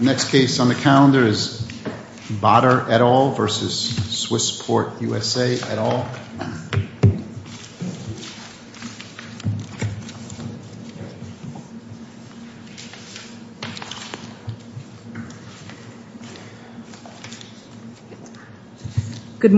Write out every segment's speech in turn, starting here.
Next case on the calendar is Badar et al. v. Swissport USA et al. The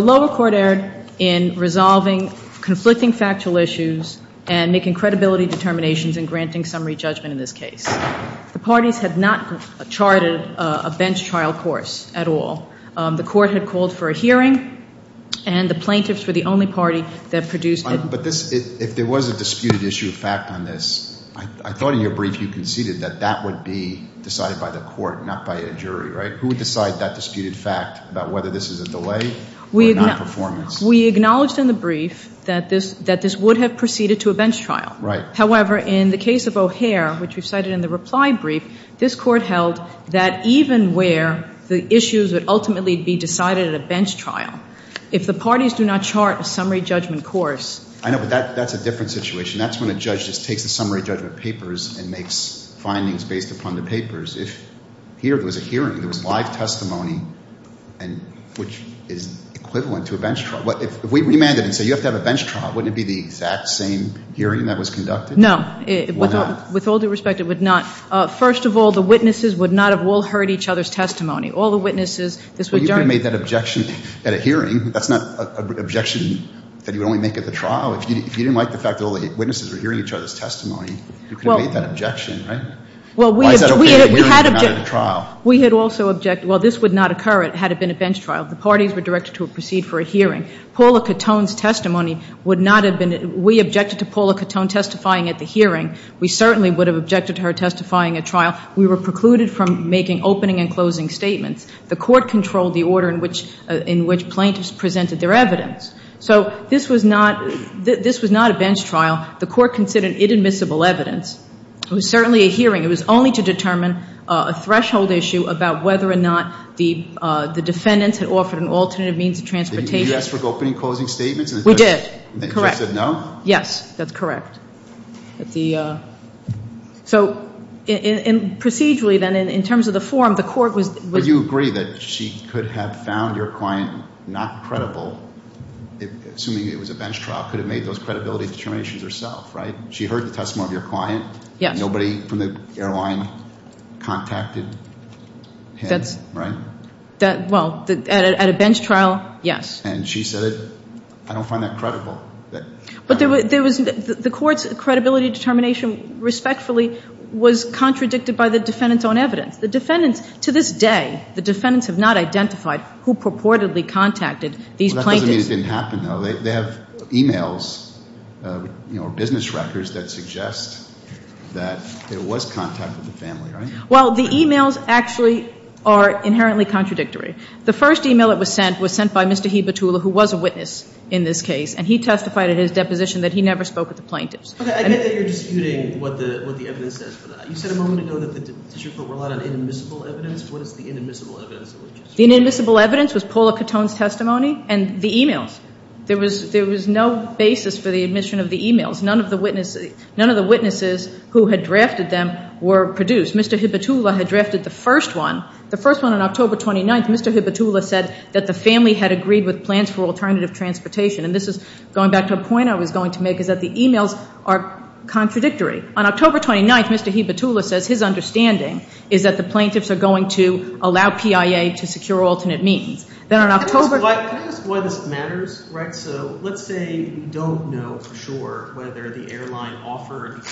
lower court erred in resolving conflicting factual issues and making credibility determinations and granting summary judgment in this case. The parties had not charted a bench trial course at all. The court had called for a hearing, and the plaintiffs were the only party that produced it. It's not a bench trial case. If there was a disputed issue of fact on this, I thought in your brief you conceded that that would be decided by the court, not by a jury, right? Who would decide that disputed fact about whether this is a delay or a nonperformance? We acknowledged in the brief that this would have proceeded to a bench trial. However, in the case of O'Hare, which we cited in the reply brief, this court held that even where the issues would ultimately be decided at a bench trial, if the parties do not chart a summary judgment course. I know, but that's a different situation. That's when a judge just takes the summary judgment papers and makes findings based upon the papers. If here there was a hearing, there was live testimony, which is equivalent to a bench trial, if we remanded and said you have to have a bench trial, wouldn't it be the exact same hearing that was conducted? No. It would not. With all due respect, it would not. First of all, the witnesses would not have all heard each other's testimony. Well, you could have made that objection at a hearing. That's not an objection that you would only make at the trial. If you didn't like the fact that all the witnesses were hearing each other's testimony, you could have made that objection, right? Why is that okay at a hearing and not at a trial? We had also objected. Well, this would not occur had it been a bench trial. The parties were directed to proceed for a hearing. Paula Cattone's testimony would not have been. We objected to Paula Cattone testifying at the hearing. We certainly would have objected to her testifying at trial. We were precluded from making opening and closing statements. The court controlled the order in which plaintiffs presented their evidence. So this was not a bench trial. The court considered it admissible evidence. It was certainly a hearing. It was only to determine a threshold issue about whether or not the defendants had offered an alternative means of transportation. Did you ask for opening and closing statements? We did, correct. And the judge said no? Yes, that's correct. So procedurally then, in terms of the form, the court was... But you agree that she could have found your client not credible, assuming it was a bench trial, could have made those credibility determinations herself, right? She heard the testimony of your client. Yes. Nobody from the airline contacted him, right? Well, at a bench trial, yes. And she said, I don't find that credible. But there was... The court's credibility determination, respectfully, was contradicted by the defendants' own evidence. The defendants... To this day, the defendants have not identified who purportedly contacted these plaintiffs. That doesn't mean it didn't happen, though. They have e-mails, you know, business records that suggest that there was contact with the family, right? Well, the e-mails actually are inherently contradictory. The first e-mail that was sent was sent by Mr. Hebatula, who was a witness in this case. And he testified in his deposition that he never spoke with the plaintiffs. Okay. I get that you're disputing what the evidence says. But you said a moment ago that the district court relied on inadmissible evidence. What is the inadmissible evidence? The inadmissible evidence was Paula Catone's testimony and the e-mails. There was no basis for the admission of the e-mails. None of the witnesses who had drafted them were produced. Mr. Hebatula had drafted the first one. The first one on October 29th, Mr. Hebatula said that the family had agreed with plans for alternative transportation. And this is going back to a point I was going to make, is that the e-mails are contradictory. On October 29th, Mr. Hebatula says his understanding is that the plaintiffs are going to allow PIA to secure alternate means. Can I ask why this matters? So let's say you don't know for sure whether the airline offered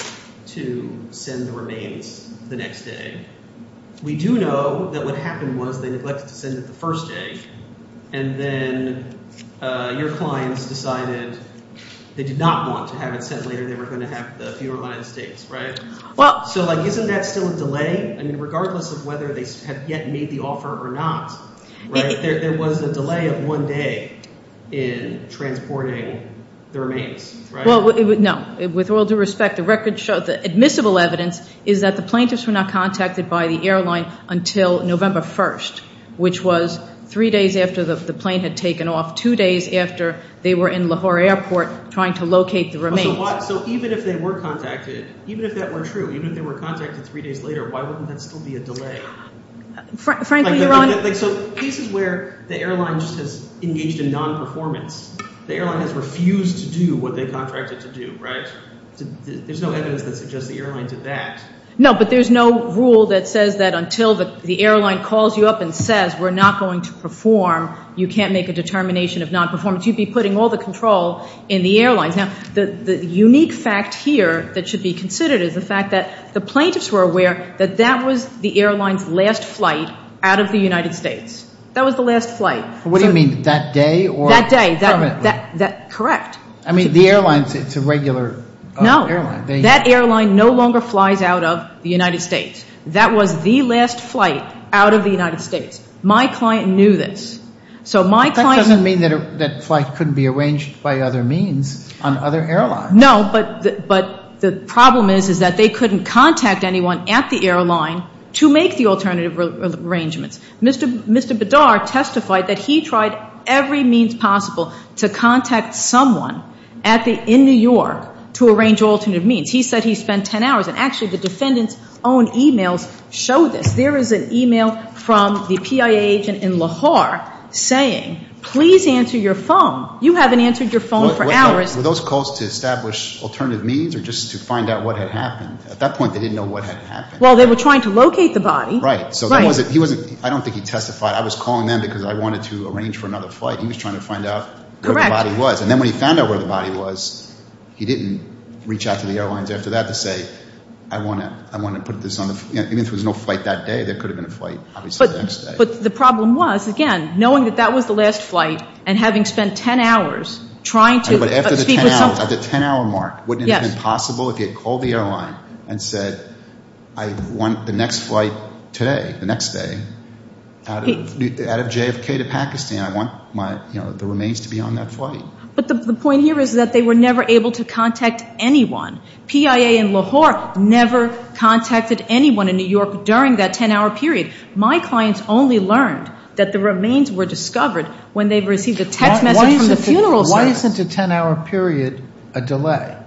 to send the remains the next day. We do know that what happened was they neglected to send it the first day. And then your clients decided they did not want to have it sent later. They were going to have the funeral in the United States, right? So, like, isn't that still a delay? I mean, regardless of whether they have yet made the offer or not, right, there was a delay of one day in transporting the remains, right? Well, no. With all due respect, the record shows that admissible evidence is that the plaintiffs were not contacted by the airline until November 1st, which was three days after the plane had taken off, two days after they were in Lahore Airport trying to locate the remains. So even if they were contacted, even if that were true, even if they were contacted three days later, why wouldn't that still be a delay? Frankly, your Honor— So cases where the airline just has engaged in non-performance, the airline has refused to do what they contracted to do, right? There's no evidence that suggests the airline did that. No, but there's no rule that says that until the airline calls you up and says we're not going to perform, you can't make a determination of non-performance. You'd be putting all the control in the airlines. Now, the unique fact here that should be considered is the fact that the plaintiffs were aware that that was the airline's last flight out of the United States. That was the last flight. What do you mean, that day or permanently? That day. Correct. I mean, the airlines, it's a regular airline. That airline no longer flies out of the United States. That was the last flight out of the United States. My client knew this. So my client— But that doesn't mean that flight couldn't be arranged by other means on other airlines. No, but the problem is is that they couldn't contact anyone at the airline to make the alternative arrangements. Mr. Bedard testified that he tried every means possible to contact someone in New York to arrange alternative means. He said he spent 10 hours, and actually the defendant's own e-mails show this. There is an e-mail from the PIA agent in Lahore saying, please answer your phone. You haven't answered your phone for hours. Were those calls to establish alternative means or just to find out what had happened? At that point, they didn't know what had happened. Well, they were trying to locate the body. Right. So he wasn't—I don't think he testified. I was calling them because I wanted to arrange for another flight. He was trying to find out where the body was. Correct. And then when he found out where the body was, he didn't reach out to the airlines after that to say, I want to put this on the—even if there was no flight that day, there could have been a flight obviously the next day. But the problem was, again, knowing that that was the last flight and having spent 10 hours trying to— But after the 10-hour mark, wouldn't it have been possible if he had called the airline and said, I want the next flight today, the next day, out of JFK to Pakistan, I want the remains to be on that flight? But the point here is that they were never able to contact anyone. PIA in Lahore never contacted anyone in New York during that 10-hour period. My clients only learned that the remains were discovered when they received a text message from the funeral service. Why isn't a 10-hour period a delay?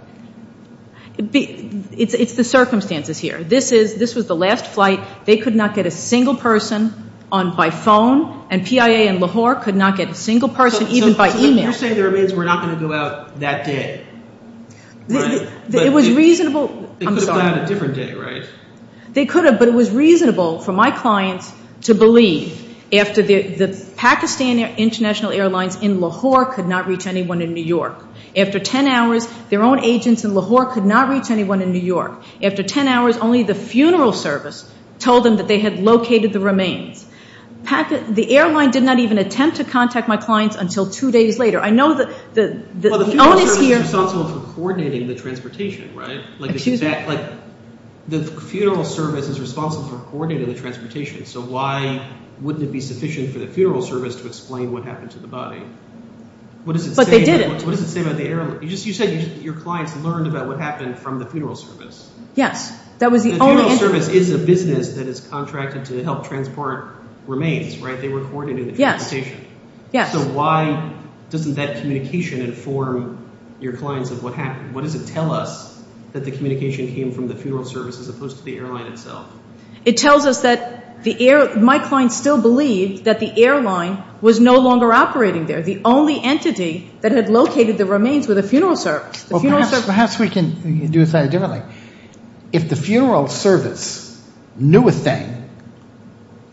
It's the circumstances here. This was the last flight. They could not get a single person by phone, and PIA in Lahore could not get a single person even by email. So you're saying the remains were not going to go out that day, right? It was reasonable—I'm sorry. They could have gone out a different day, right? They could have, but it was reasonable for my clients to believe after the— the Pakistan International Airlines in Lahore could not reach anyone in New York. After 10 hours, their own agents in Lahore could not reach anyone in New York. After 10 hours, only the funeral service told them that they had located the remains. The airline did not even attempt to contact my clients until two days later. I know the onus here— Well, the funeral service is responsible for coordinating the transportation, right? Excuse me? The funeral service is responsible for coordinating the transportation, so why wouldn't it be sufficient for the funeral service to explain what happened to the body? But they didn't. What does it say about the airline? You said your clients learned about what happened from the funeral service. Yes, that was the only— The funeral service is a business that is contracted to help transport remains, right? They were coordinating the transportation. Yes, yes. So why doesn't that communication inform your clients of what happened? What does it tell us that the communication came from the funeral service as opposed to the airline itself? It tells us that the airline—my clients still believed that the airline was no longer operating there. The only entity that had located the remains were the funeral service. Perhaps we can do it slightly differently. If the funeral service knew a thing,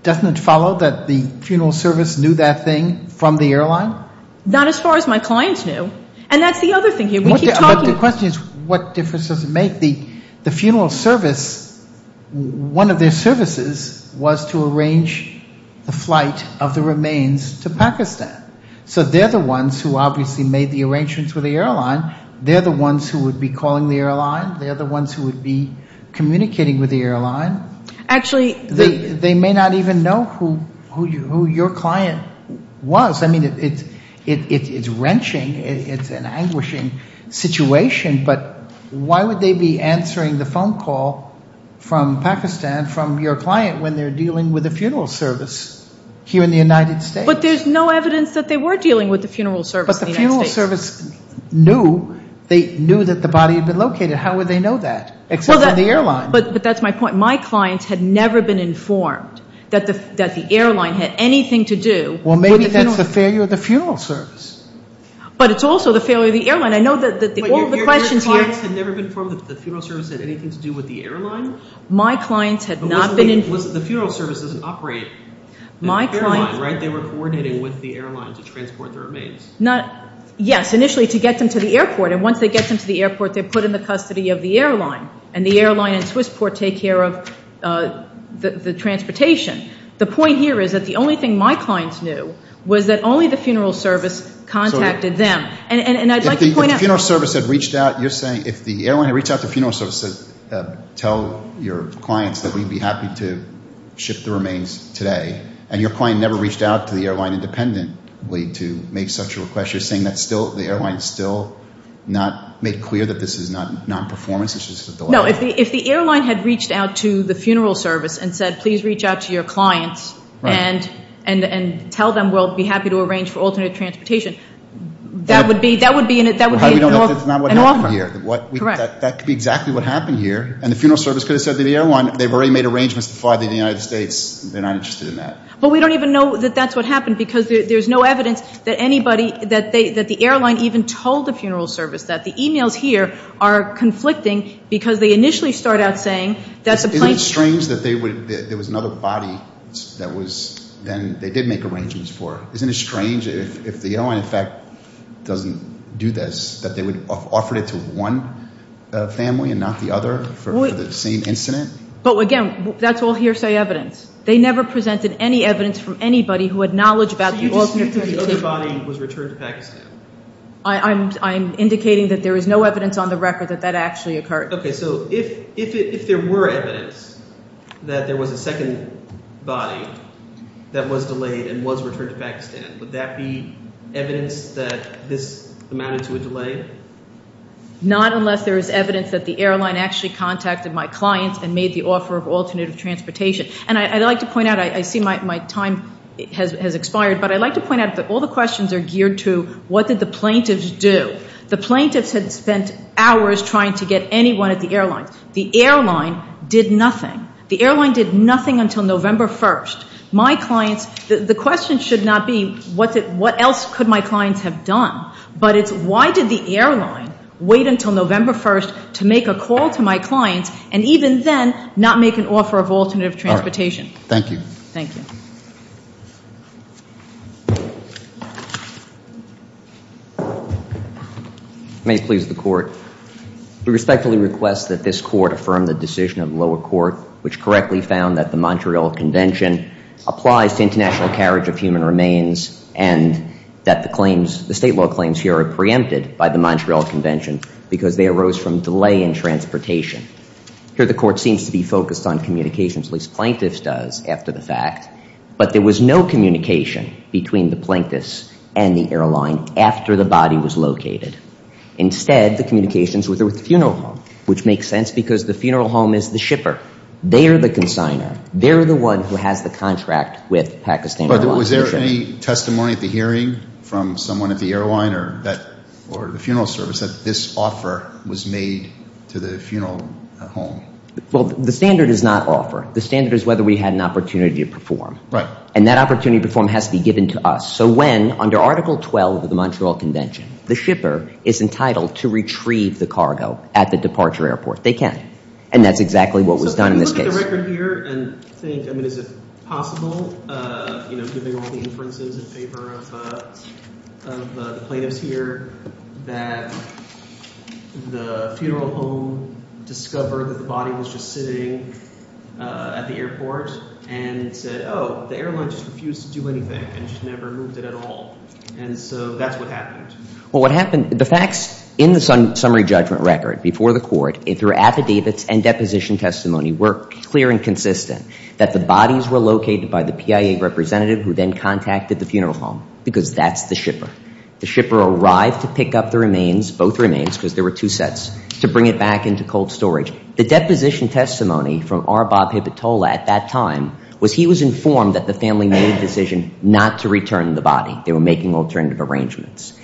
doesn't it follow that the funeral service knew that thing from the airline? Not as far as my clients knew, and that's the other thing here. We keep talking— But the question is what difference does it make? The funeral service—one of their services was to arrange the flight of the remains to Pakistan. So they're the ones who obviously made the arrangements with the airline. They're the ones who would be calling the airline. They're the ones who would be communicating with the airline. Actually— They may not even know who your client was. I mean, it's wrenching. It's an anguishing situation. But why would they be answering the phone call from Pakistan, from your client, when they're dealing with a funeral service here in the United States? But there's no evidence that they were dealing with the funeral service in the United States. But the funeral service knew. They knew that the body had been located. How would they know that, except from the airline? But that's my point. My clients had never been informed that the airline had anything to do with the funeral— Well, maybe that's the failure of the funeral service. But it's also the failure of the airline. I know that all the questions here— Your clients had never been informed that the funeral service had anything to do with the airline? My clients had not been— The funeral service doesn't operate in the airline, right? They were coordinating with the airline to transport the remains. Yes, initially to get them to the airport. And once they get them to the airport, they're put in the custody of the airline. And the airline and Swissport take care of the transportation. The point here is that the only thing my clients knew was that only the funeral service contacted them. And I'd like to point out— If the funeral service had reached out, you're saying if the airline had reached out to the funeral service to tell your clients that we'd be happy to ship the remains today, and your client never reached out to the airline independently to make such a request, you're saying the airline is still not made clear that this is not non-performance? It's just a delay? No, if the airline had reached out to the funeral service and said, please reach out to your clients and tell them we'll be happy to arrange for alternate transportation, that would be an offer. That's not what happened here. Correct. That could be exactly what happened here. And the funeral service could have said to the airline, they've already made arrangements to fly to the United States. They're not interested in that. But we don't even know that that's what happened because there's no evidence that anybody— that the airline even told the funeral service that. The e-mails here are conflicting because they initially start out saying that the plane— Isn't it strange that there was another body that they did make arrangements for? Isn't it strange if the airline, in fact, doesn't do this, that they would offer it to one family and not the other for the same incident? But, again, that's all hearsay evidence. They never presented any evidence from anybody who had knowledge about the alternate transportation. So you dispute the other body was returned to Pakistan? I'm indicating that there is no evidence on the record that that actually occurred. Okay, so if there were evidence that there was a second body that was delayed and was returned to Pakistan, would that be evidence that this amounted to a delay? Not unless there is evidence that the airline actually contacted my clients and made the offer of alternative transportation. And I'd like to point out—I see my time has expired, but I'd like to point out that all the questions are geared to what did the plaintiffs do. The plaintiffs had spent hours trying to get anyone at the airline. The airline did nothing. The airline did nothing until November 1st. My clients—the question should not be what else could my clients have done, but it's why did the airline wait until November 1st to make a call to my clients and even then not make an offer of alternative transportation. Thank you. Thank you. May it please the Court. We respectfully request that this Court affirm the decision of lower court which correctly found that the Montreal Convention applies to international carriage of human remains and that the claims—the state law claims here are preempted by the Montreal Convention because they arose from delay in transportation. Here the Court seems to be focused on communications, at least plaintiffs does, after the fact, but there was no communication between the plaintiffs and the airline after the body was located. Instead, the communications were through the funeral home, which makes sense because the funeral home is the shipper. They are the consigner. They are the one who has the contract with Pakistan Airlines. Was there any testimony at the hearing from someone at the airline or the funeral service that this offer was made to the funeral home? Well, the standard is not offer. The standard is whether we had an opportunity to perform. Right. And that opportunity to perform has to be given to us. So when, under Article 12 of the Montreal Convention, the shipper is entitled to retrieve the cargo at the departure airport. They can. And that's exactly what was done in this case. So can we look at the record here and think, I mean, is it possible, you know, given all the inferences in favor of the plaintiffs here, that the funeral home discovered that the body was just sitting at the airport and said, oh, the airline just refused to do anything and just never moved it at all. And so that's what happened. Well, what happened, the facts in the summary judgment record before the court, through affidavits and deposition testimony, were clear and consistent that the bodies were located by the PIA representative who then contacted the funeral home because that's the shipper. The shipper arrived to pick up the remains, both remains because there were two sets, to bring it back into cold storage. The deposition testimony from R. Bob Hippitola at that time was he was informed that the family made a decision not to return the body. They were making alternative arrangements.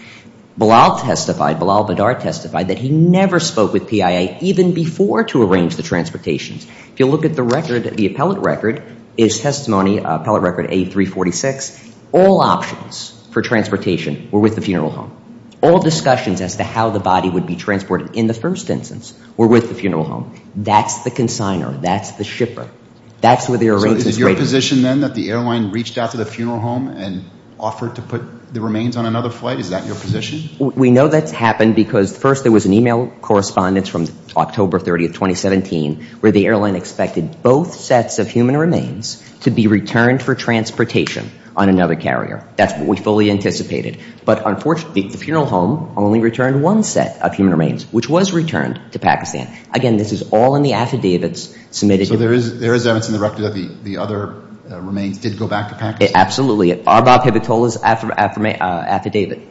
Bilal testified, Bilal Bidar testified that he never spoke with PIA even before to arrange the transportations. If you look at the record, the appellate record, his testimony, appellate record A346, all options for transportation were with the funeral home. All discussions as to how the body would be transported in the first instance were with the funeral home. That's the consigner. That's the shipper. That's where the arrangements were made. Is it your position then that the airline reached out to the funeral home and offered to put the remains on another flight? Is that your position? We know that's happened because first there was an email correspondence from October 30, 2017, where the airline expected both sets of human remains to be returned for transportation on another carrier. That's what we fully anticipated. But unfortunately, the funeral home only returned one set of human remains, which was returned to Pakistan. Again, this is all in the affidavits submitted. So there is evidence in the record that the other remains did go back to Pakistan? Absolutely. Abba Pivotola's affidavit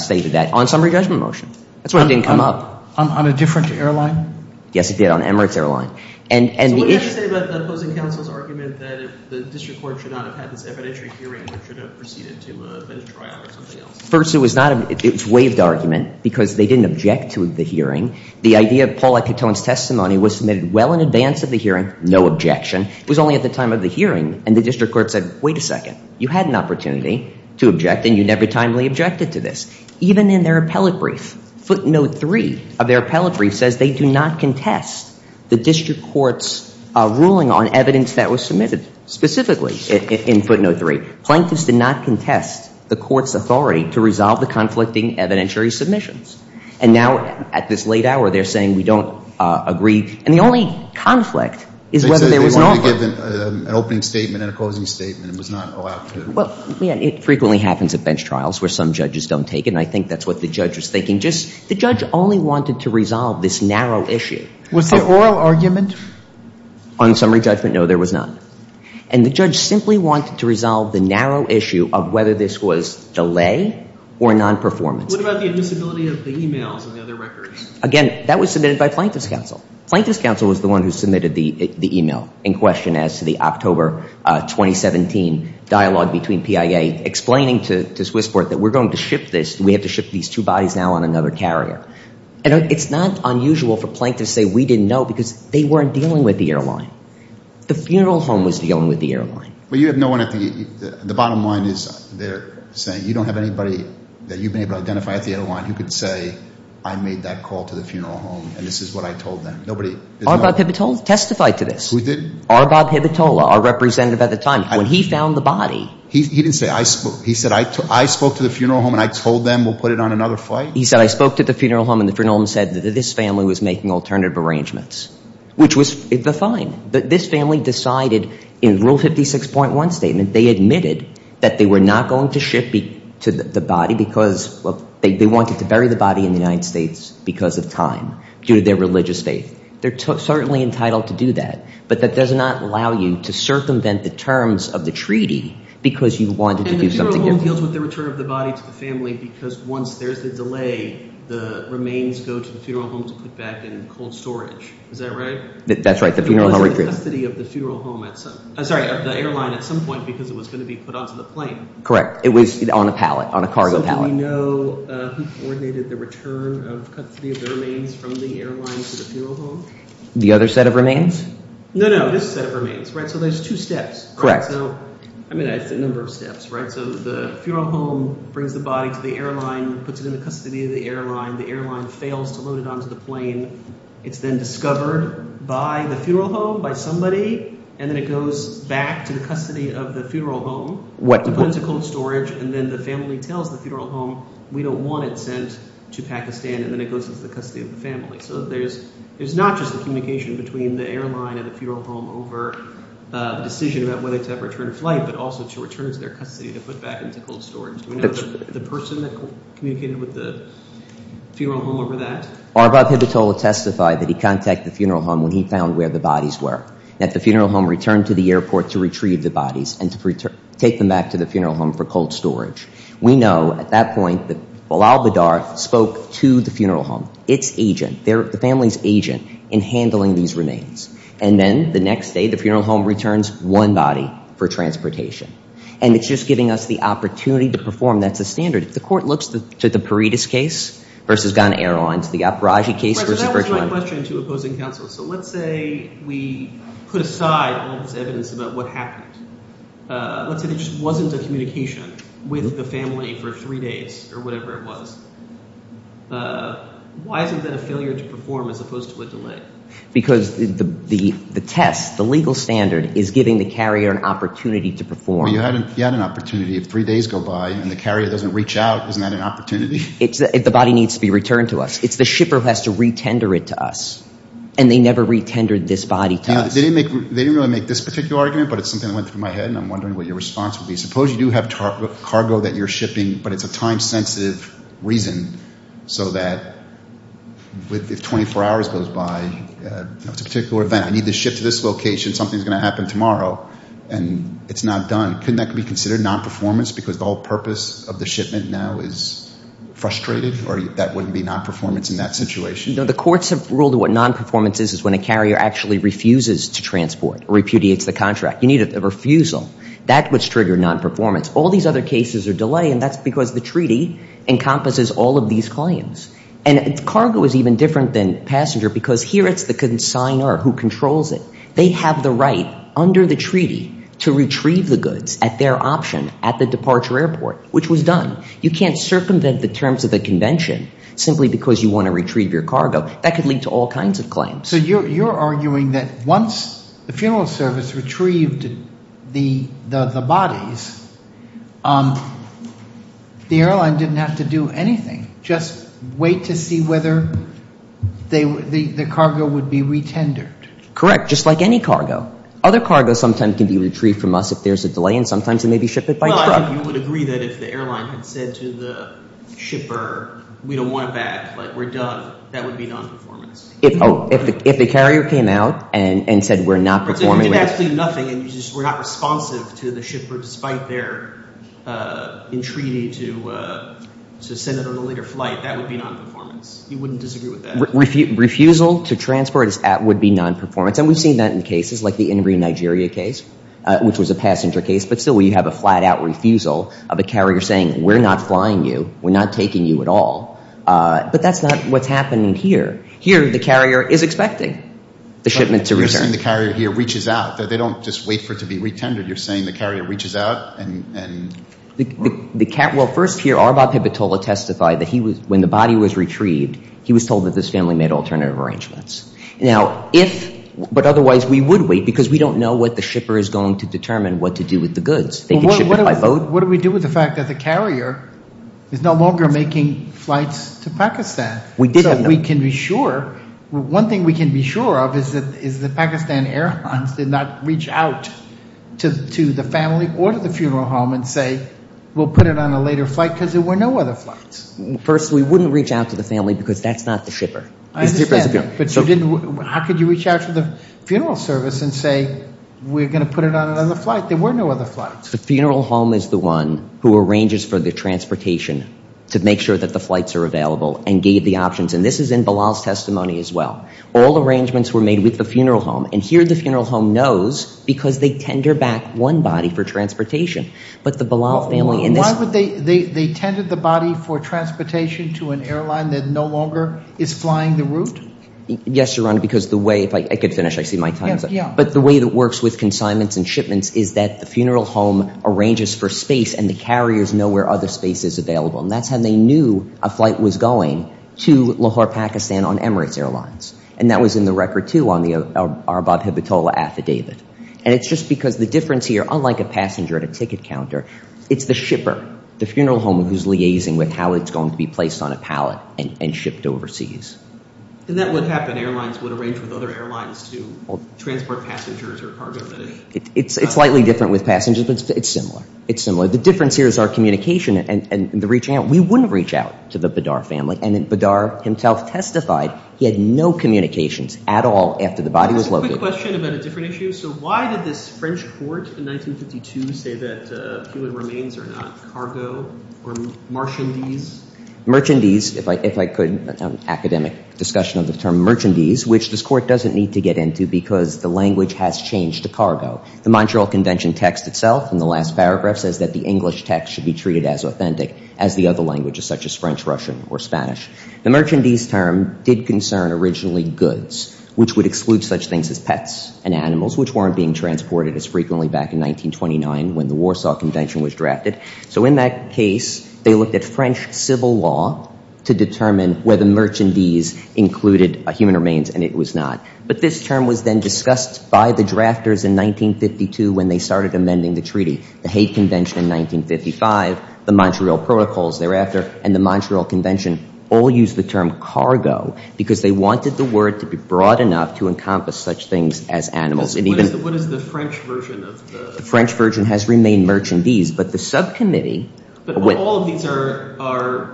stated that on summary judgment motion. That's why it didn't come up. On a different airline? Yes, it did, on Emirates Airline. So what did that say about the opposing counsel's argument that the district court should not have had this evidentiary hearing and should have proceeded to a bench trial or something else? First, it was waived argument because they didn't object to the hearing. The idea of Paul Epitone's testimony was submitted well in advance of the hearing. No objection. It was only at the time of the hearing, and the district court said, wait a second, you had an opportunity to object, and you never timely objected to this. Even in their appellate brief, footnote three of their appellate brief says they do not contest the district court's ruling on evidence that was submitted specifically in footnote three. Plaintiffs did not contest the court's authority to resolve the conflicting evidentiary submissions. And now, at this late hour, they're saying we don't agree. And the only conflict is whether there was an offer. They said they wanted to give an opening statement and a closing statement and was not allowed to. Well, it frequently happens at bench trials where some judges don't take it, and I think that's what the judge was thinking. The judge only wanted to resolve this narrow issue. Was there oral argument? On summary judgment, no, there was none. And the judge simply wanted to resolve the narrow issue of whether this was delay or non-performance. What about the admissibility of the e-mails and the other records? Again, that was submitted by Plaintiffs' counsel. Plaintiffs' counsel was the one who submitted the e-mail in question as to the October 2017 dialogue between PIA explaining to Swissport that we're going to ship this, and we have to ship these two bodies now on another carrier. And it's not unusual for plaintiffs to say we didn't know because they weren't dealing with the airline. The funeral home was dealing with the airline. Well, you have no one at the bottom line there saying that you don't have anybody that you've been able to identify at the airline who could say I made that call to the funeral home and this is what I told them. Arbab Hibitola testified to this. Who did? Arbab Hibitola, our representative at the time. When he found the body. He didn't say I spoke. He said I spoke to the funeral home and I told them we'll put it on another flight? He said I spoke to the funeral home and the funeral home said that this family was making alternative arrangements, which was fine. But this family decided in Rule 56.1 statement, they admitted that they were not going to ship the body because they wanted to bury the body in the United States because of time due to their religious faith. They're certainly entitled to do that, but that does not allow you to circumvent the terms of the treaty because you wanted to do something different. And the funeral home deals with the return of the body to the family because once there's a delay, the remains go to the funeral home to be put back in cold storage. Is that right? That's right. It was in custody of the funeral home at some – I'm sorry, of the airline at some point because it was going to be put onto the plane. Correct. It was on a pallet, on a cargo pallet. So do we know who coordinated the return of custody of the remains from the airline to the funeral home? The other set of remains? No, no, this set of remains, right? So there's two steps. Correct. I mean it's a number of steps, right? So the funeral home brings the body to the airline, puts it in the custody of the airline. The airline fails to load it onto the plane. It's then discovered by the funeral home, by somebody, and then it goes back to the custody of the funeral home to put into cold storage, and then the family tells the funeral home, we don't want it sent to Pakistan, and then it goes into the custody of the family. So there's not just a communication between the airline and the funeral home over the decision about whether to have return to flight but also to return to their custody to put back into cold storage. Do we know the person that communicated with the funeral home over that? Arbab Hibatola testified that he contacted the funeral home when he found where the bodies were, that the funeral home returned to the airport to retrieve the bodies and to take them back to the funeral home for cold storage. We know at that point that Bilal Bidar spoke to the funeral home, its agent, the family's agent, in handling these remains, and then the next day the funeral home returns one body for transportation, and it's just giving us the opportunity to perform. That's the standard. The court looks to the Paredes case versus Ghana Airlines, the Aparaji case versus Virgil. That was my question to opposing counsel. So let's say we put aside all this evidence about what happened. Let's say there just wasn't a communication with the family for three days or whatever it was. Why isn't that a failure to perform as opposed to a delay? Because the test, the legal standard, is giving the carrier an opportunity to perform. You had an opportunity. If three days go by and the carrier doesn't reach out, isn't that an opportunity? The body needs to be returned to us. It's the shipper who has to re-tender it to us, and they never re-tendered this body to us. They didn't really make this particular argument, but it's something that went through my head, and I'm wondering what your response would be. Suppose you do have cargo that you're shipping, but it's a time-sensitive reason so that if 24 hours goes by, it's a particular event. I need to ship to this location. Something's going to happen tomorrow, and it's not done. Couldn't that be considered non-performance because the whole purpose of the shipment now is frustrated, or that wouldn't be non-performance in that situation? The courts have ruled that what non-performance is is when a carrier actually refuses to transport or repudiates the contract. You need a refusal. That's what's triggering non-performance. All these other cases are delaying, and that's because the treaty encompasses all of these claims. And cargo is even different than passenger because here it's the consigner who controls it. They have the right under the treaty to retrieve the goods at their option at the departure airport, which was done. You can't circumvent the terms of the convention simply because you want to retrieve your cargo. That could lead to all kinds of claims. So you're arguing that once the funeral service retrieved the bodies, the airline didn't have to do anything, just wait to see whether the cargo would be retendered. Correct, just like any cargo. Other cargo sometimes can be retrieved from us if there's a delay, and sometimes it may be shipped by truck. You would agree that if the airline had said to the shipper, we don't want it back, we're done, that would be non-performance? If the carrier came out and said we're not performing. You did absolutely nothing, and you just were not responsive to the shipper despite their entreaty to send it on a later flight. That would be non-performance. You wouldn't disagree with that? Refusal to transport would be non-performance, and we've seen that in cases like the Inverie, Nigeria case, which was a passenger case, but still you have a flat-out refusal of a carrier saying we're not flying you, we're not taking you at all. But that's not what's happening here. Here the carrier is expecting the shipment to return. You're saying the carrier here reaches out. They don't just wait for it to be retendered. You're saying the carrier reaches out and... Well, first here, Arbab Hebatola testified that when the body was retrieved, he was told that this family made alternative arrangements. Now, if, but otherwise we would wait because we don't know what the shipper is going to determine what to do with the goods. What do we do with the fact that the carrier is no longer making flights to Pakistan? So we can be sure. One thing we can be sure of is that Pakistan Air Hunts did not reach out to the family or to the funeral home and say we'll put it on a later flight because there were no other flights. First, we wouldn't reach out to the family because that's not the shipper. I understand, but how could you reach out to the funeral service and say we're going to put it on another flight? There were no other flights. The funeral home is the one who arranges for the transportation to make sure that the flights are available and gave the options. And this is in Bilal's testimony as well. All arrangements were made with the funeral home. And here the funeral home knows because they tender back one body for transportation. But the Bilal family... Why would they tender the body for transportation to an airline that no longer is flying the route? Yes, Your Honor, because the way... If I could finish, I see my time is up. But the way it works with consignments and shipments is that the funeral home arranges for space and the carriers know where other space is available. And that's how they knew a flight was going to Lahore, Pakistan on Emirates Airlines. And that was in the record too on the Arabab-Hibatola affidavit. And it's just because the difference here, unlike a passenger at a ticket counter, it's the shipper, the funeral home, who's liaising with how it's going to be placed on a pallet and shipped overseas. And that would happen. Airlines would arrange with other airlines to transport passengers or cargo. It's slightly different with passengers, but it's similar. It's similar. The difference here is our communication and the reaching out. We wouldn't reach out to the Badar family. And Badar himself testified he had no communications at all after the body was located. Quick question about a different issue. So why did this French court in 1952 say that human remains are not cargo or marchandise? Merchandise, if I could, an academic discussion of the term merchandise, which this court doesn't need to get into because the language has changed to cargo. The Montreal Convention text itself in the last paragraph says that the English text should be treated as authentic as the other languages such as French, Russian, or Spanish. The merchandise term did concern originally goods, which would exclude such things as pets and animals, which weren't being transported as frequently back in 1929 when the Warsaw Convention was drafted. So in that case, they looked at French civil law to determine whether merchandise included human remains, and it was not. But this term was then discussed by the drafters in 1952 when they started amending the treaty. The Hague Convention in 1955, the Montreal Protocols thereafter, and the Montreal Convention all used the term cargo because they wanted the word to be broad enough to encompass such things as animals. What is the French version of the – The French version has remained merchandise, but the subcommittee – But all of these are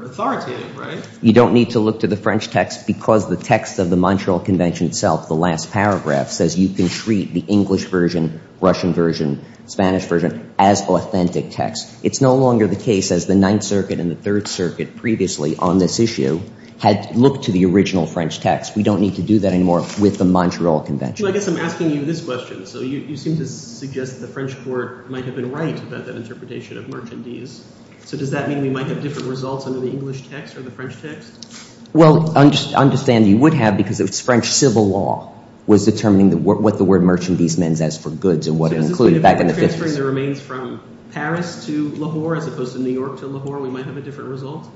authoritative, right? You don't need to look to the French text because the text of the Montreal Convention itself, the last paragraph, says you can treat the English version, Russian version, Spanish version as authentic text. It's no longer the case as the Ninth Circuit and the Third Circuit previously on this issue had looked to the original French text. We don't need to do that anymore with the Montreal Convention. Well, I guess I'm asking you this question. So you seem to suggest the French court might have been right about that interpretation of merchandise. So does that mean we might have different results under the English text or the French text? Well, understand you would have because it was French civil law was determining what the word So does this mean if we're transferring the remains from Paris to Lahore as opposed to New York to Lahore, we might have a different result?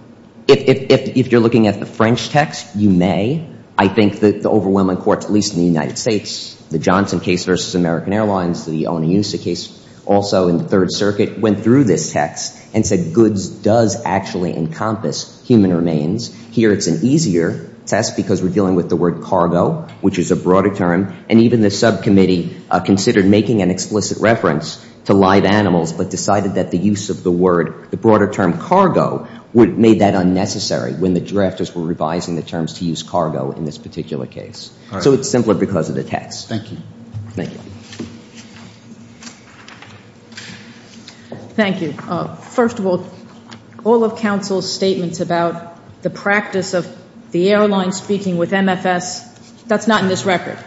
If you're looking at the French text, you may. I think that the overwhelming courts, at least in the United States, the Johnson case versus American Airlines, the Oniusa case also in the Third Circuit, went through this text and said goods does actually encompass human remains. Here it's an easier test because we're dealing with the word cargo, which is a broader term, and even the subcommittee considered making an explicit reference to live animals but decided that the use of the word, the broader term cargo, made that unnecessary when the drafters were revising the terms to use cargo in this particular case. So it's simpler because of the text. Thank you. Thank you. First of all, all of counsel's statements about the practice of the airline speaking with MFS, that's not in this record.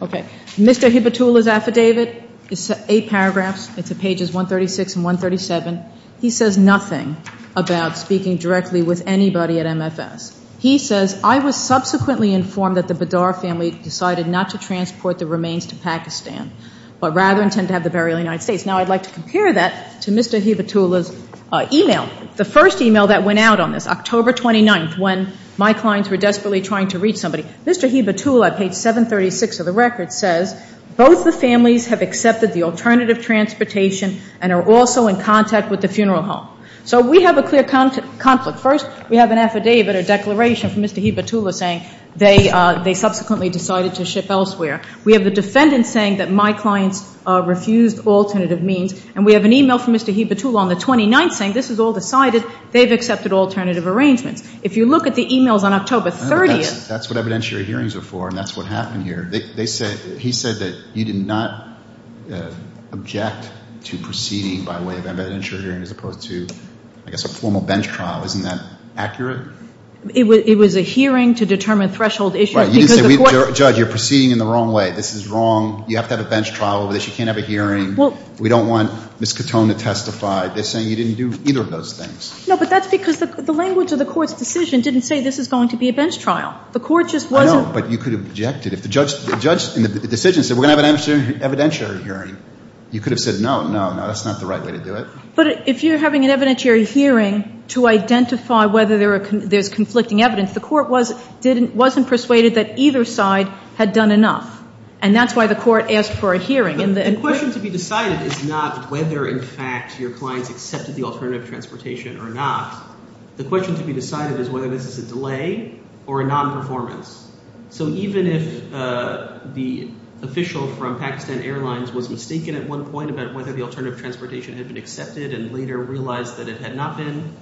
Okay. Mr. Hibatula's affidavit is eight paragraphs. It's at pages 136 and 137. He says nothing about speaking directly with anybody at MFS. He says, I was subsequently informed that the Badar family decided not to transport the remains to Pakistan but rather intend to have the burial in the United States. Now, I'd like to compare that to Mr. Hibatula's e-mail, the first e-mail that went out on this, when my clients were desperately trying to reach somebody. Mr. Hibatula at page 736 of the record says, both the families have accepted the alternative transportation and are also in contact with the funeral home. So we have a clear conflict. First, we have an affidavit or declaration from Mr. Hibatula saying they subsequently decided to ship elsewhere. We have the defendant saying that my clients refused alternative means, and we have an e-mail from Mr. Hibatula on the 29th saying this is all decided, they've accepted alternative arrangements. If you look at the e-mails on October 30th. That's what evidentiary hearings are for, and that's what happened here. He said that you did not object to proceeding by way of evidentiary hearing as opposed to, I guess, a formal bench trial. Isn't that accurate? It was a hearing to determine threshold issues because the court. Judge, you're proceeding in the wrong way. This is wrong. You have to have a bench trial over this. You can't have a hearing. We don't want Ms. Cotone to testify. They're saying you didn't do either of those things. No, but that's because the language of the court's decision didn't say this is going to be a bench trial. The court just wasn't. I know, but you could have objected. If the judge in the decision said we're going to have an evidentiary hearing, you could have said no, no, no. That's not the right way to do it. But if you're having an evidentiary hearing to identify whether there's conflicting evidence, the court wasn't persuaded that either side had done enough, and that's why the court asked for a hearing. The question to be decided is not whether, in fact, your clients accepted the alternative transportation or not. The question to be decided is whether this is a delay or a non-performance. So even if the official from Pakistan Airlines was mistaken at one point about whether the alternative transportation had been accepted and later realized that it had not been,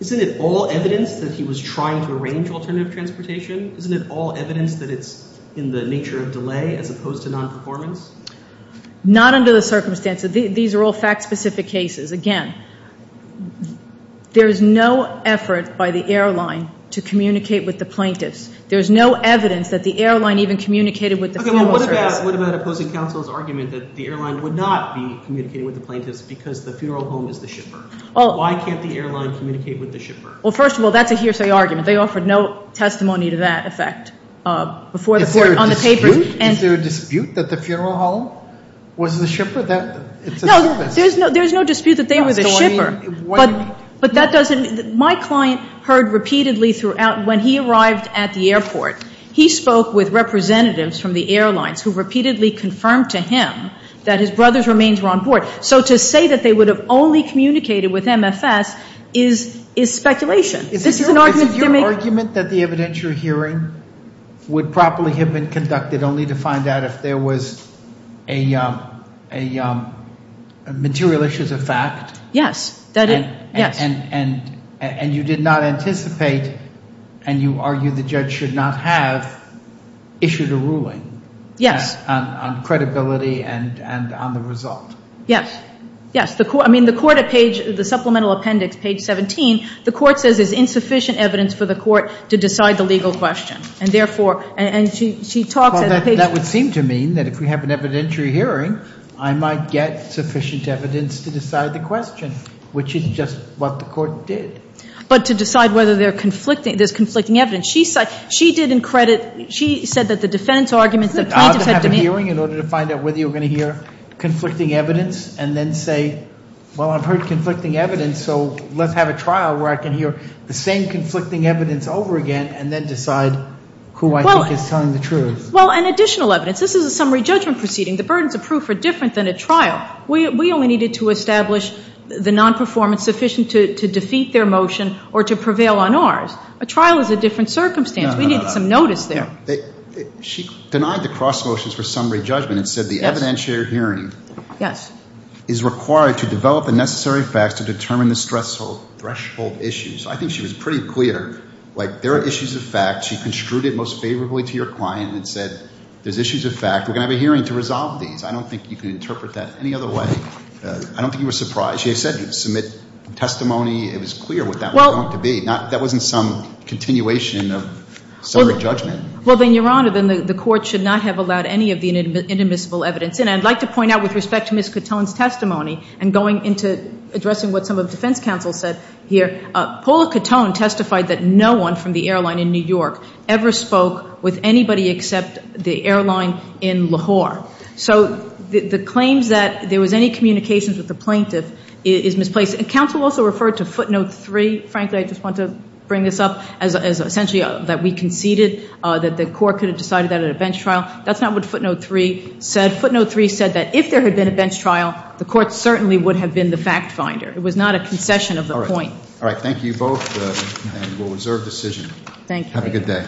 isn't it all evidence that he was trying to arrange alternative transportation? Isn't it all evidence that it's in the nature of delay as opposed to non-performance? Not under the circumstances. These are all fact-specific cases. Again, there is no effort by the airline to communicate with the plaintiffs. There is no evidence that the airline even communicated with the funeral service. Okay, well, what about opposing counsel's argument that the airline would not be communicating with the plaintiffs because the funeral home is the shipper? Why can't the airline communicate with the shipper? Well, first of all, that's a hearsay argument. They offered no testimony to that effect before the court on the papers. Is there a dispute that the funeral home was the shipper, that it's a service? No, there's no dispute that they were the shipper. So, I mean, what do you mean? My client heard repeatedly throughout when he arrived at the airport. He spoke with representatives from the airlines who repeatedly confirmed to him that his brother's remains were on board. So to say that they would have only communicated with MFS is speculation. Is it your argument that the evidence you're hearing would properly have been conducted only to find out if there was a material issue as a fact? Yes. And you did not anticipate and you argue the judge should not have issued a ruling on credibility and on the result. Yes, yes. The court, I mean, the court at page, the supplemental appendix, page 17, the court says there's insufficient evidence for the court to decide the legal question. And therefore, and she talks at a page. Well, that would seem to mean that if we have an evidentiary hearing, I might get sufficient evidence to decide the question, which is just what the court did. But to decide whether there's conflicting evidence. She did in credit, she said that the defense arguments, the plaintiffs had to make. In order to find out whether you're going to hear conflicting evidence and then say, well, I've heard conflicting evidence. So let's have a trial where I can hear the same conflicting evidence over again and then decide who I think is telling the truth. Well, and additional evidence. This is a summary judgment proceeding. The burdens of proof are different than a trial. We only needed to establish the non-performance sufficient to defeat their motion or to prevail on ours. A trial is a different circumstance. We need some notice there. She denied the cross motions for summary judgment and said the evidentiary hearing. Yes. Is required to develop the necessary facts to determine the threshold issues. I think she was pretty clear. Like, there are issues of fact. She construed it most favorably to your client and said, there's issues of fact. We're going to have a hearing to resolve these. I don't think you can interpret that any other way. I don't think you were surprised. She said you'd submit testimony. It was clear what that was going to be. That wasn't some continuation of summary judgment. Well, then, Your Honor, then the court should not have allowed any of the inadmissible evidence. And I'd like to point out with respect to Ms. Cotone's testimony and going into addressing what some of the defense counsel said here, Paula Cotone testified that no one from the airline in New York ever spoke with anybody except the airline in Lahore. So the claims that there was any communications with the plaintiff is misplaced. And counsel also referred to footnote three. Frankly, I just want to bring this up as essentially that we conceded that the court could have decided that at a bench trial. That's not what footnote three said. Footnote three said that if there had been a bench trial, the court certainly would have been the fact finder. It was not a concession of the point. All right. Thank you both. And we'll reserve decision. Thank you. Have a good day.